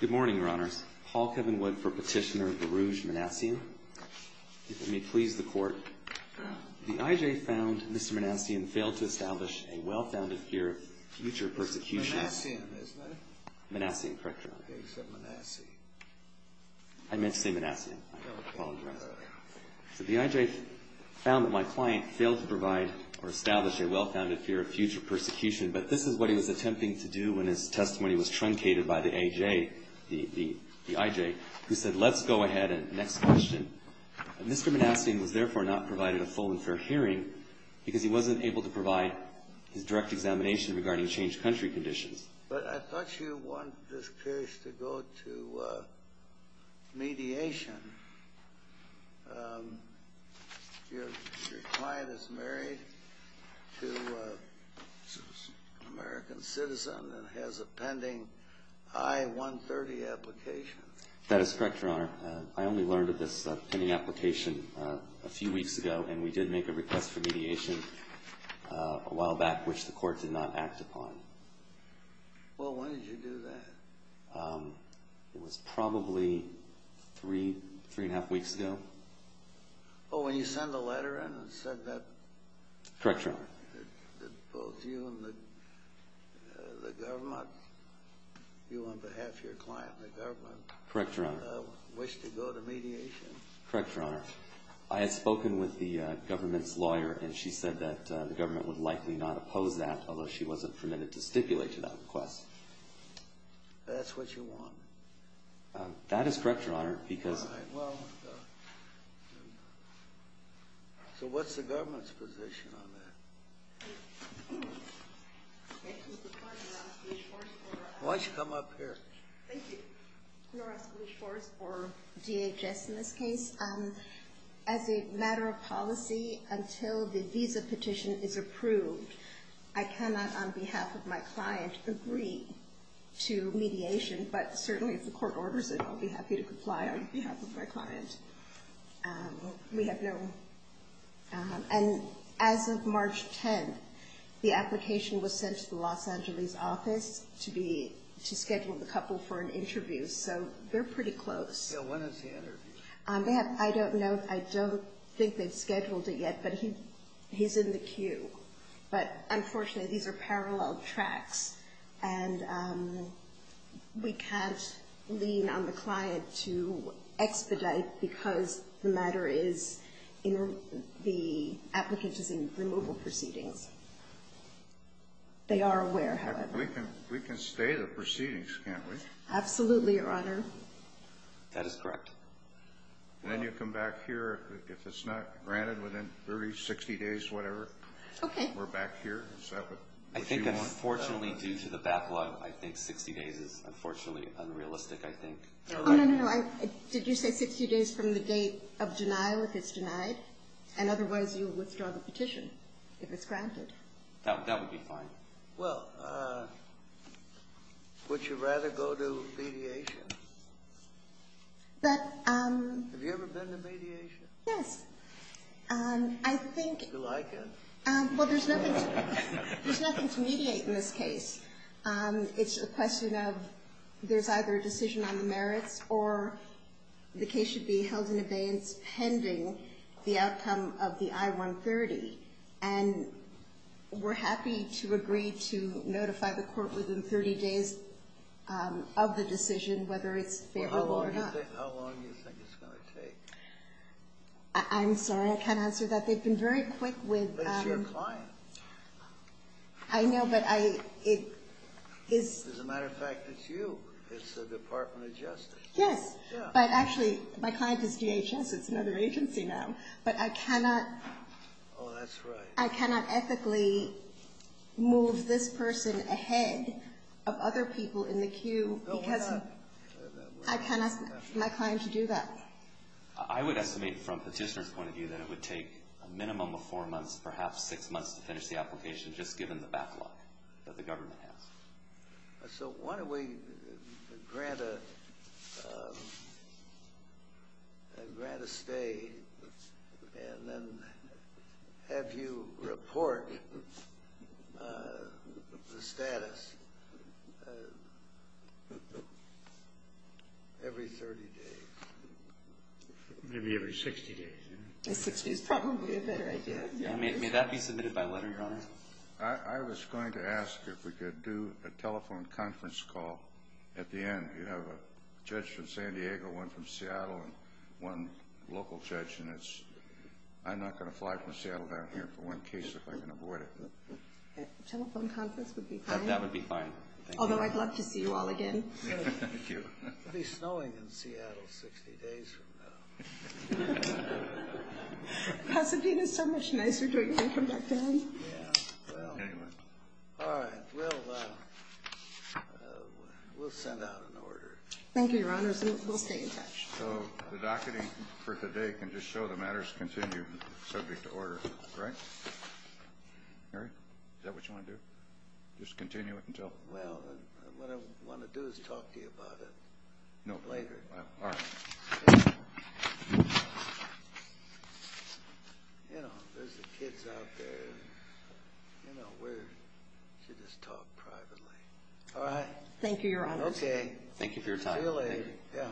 Good morning, Your Honors. Paul Kevin Wood for Petitioner Barouge Manasian. If it may please the Court, the I.J. found Mr. Manasian failed to establish a well-founded fear of future persecution. It's Manasian, isn't it? Manasian, correct, Your Honor. Okay, he said Manasian. I meant to say Manasian. I apologize. So the I.J. found that my client failed to provide or establish a well-founded fear of future persecution, but this is what he was attempting to do when his testimony was truncated by the I.J., who said, let's go ahead and next question. Mr. Manasian was therefore not provided a full and fair hearing because he wasn't able to provide his direct examination regarding changed country conditions. But I thought you wanted this case to go to mediation. Manasian, your client is married to an American citizen and has a pending I-130 application. That is correct, Your Honor. I only learned of this pending application a few weeks ago, and we did make a request for mediation a while back, which the Court did not act upon. Well, when did you do that? It was probably three, three and a half weeks ago. Oh, when you sent the letter in that said that? Correct, Your Honor. That both you and the government, you on behalf of your client and the government, Correct, Your Honor. wish to go to mediation? I had spoken with the government's lawyer, and she said that the government would likely not oppose that, unless she wasn't permitted to stipulate to that request. That's what you want? That is correct, Your Honor, because All right, well, so what's the government's position on that? Why don't you come up here? Thank you. Norah Spalish-Forrest for DHS in this case. As a matter of policy, until the visa petition is approved, I cannot, on behalf of my client, agree to mediation, but certainly if the Court orders it, I'll be happy to comply on behalf of my client. We have no, and as of March 10th, the application was sent to the Los Angeles office to schedule the couple for an interview, so they're pretty close. So when is the interview? I don't know. I don't think they've scheduled it yet, but he's in the queue. But unfortunately, these are parallel tracks, and we can't lean on the client to expedite because the matter is, the applicant is in removal proceedings. They are aware, however. We can stay the proceedings, can't we? Absolutely, Your Honor. That is correct. Then you come back here if it's not granted within 30, 60 days, whatever. Okay. We're back here. Is that what you want? I think unfortunately, due to the backlog, I think 60 days is unfortunately unrealistic, I think. No, no, no. Did you say 60 days from the date of denial if it's denied? And otherwise, you withdraw the petition if it's granted. That would be fine. Well, would you rather go to mediation? But um. Have you ever been to mediation? Yes. I think. Do you like it? Well, there's nothing to mediate in this case. It's a question of there's either a decision on the merits, or the case should be held in abeyance pending the outcome of the I-130. And we're happy to agree to notify the court within 30 days of the decision, whether it's favorable or not. Well, how long do you think it's going to take? I'm sorry. I can't answer that. They've been very quick with. But it's your client. I know, but it is. As a matter of fact, it's you. It's the Department of Justice. Yes. But actually, my client is DHS. It's another agency now. But I cannot. Oh, that's right. I cannot ethically move this person ahead of other people in the queue. Because I cannot ask my client to do that. I would estimate from Petitioner's point of view that it would take a minimum of four months, perhaps six months to finish the application, just given the backlog that the government has. So why don't we grant a stay and then have you report the status every 30 days? Maybe every 60 days. 60 is probably a better idea. I was going to ask if we could do a telephone conference call at the end. You have a judge from San Diego, one from Seattle, and one local judge. And I'm not going to fly from Seattle down here for one case if I can avoid it. Telephone conference would be fine. That would be fine. Although I'd love to see you all again. Thank you. It'll be snowing in Seattle 60 days from now. Pasadena is so much nicer to hear from back there. Yeah. Well, anyway. All right. Well, we'll send out an order. Thank you, Your Honors. We'll stay in touch. So the docketing for today can just show the matters continue subject to order, correct? Mary, is that what you want to do? Just continue it until? Well, what I want to do is talk to you about it later. All right. You know, there's the kids out there. You know, we should just talk privately. All right. Thank you, Your Honors. Okay. Thank you for your time. See you later. Yeah.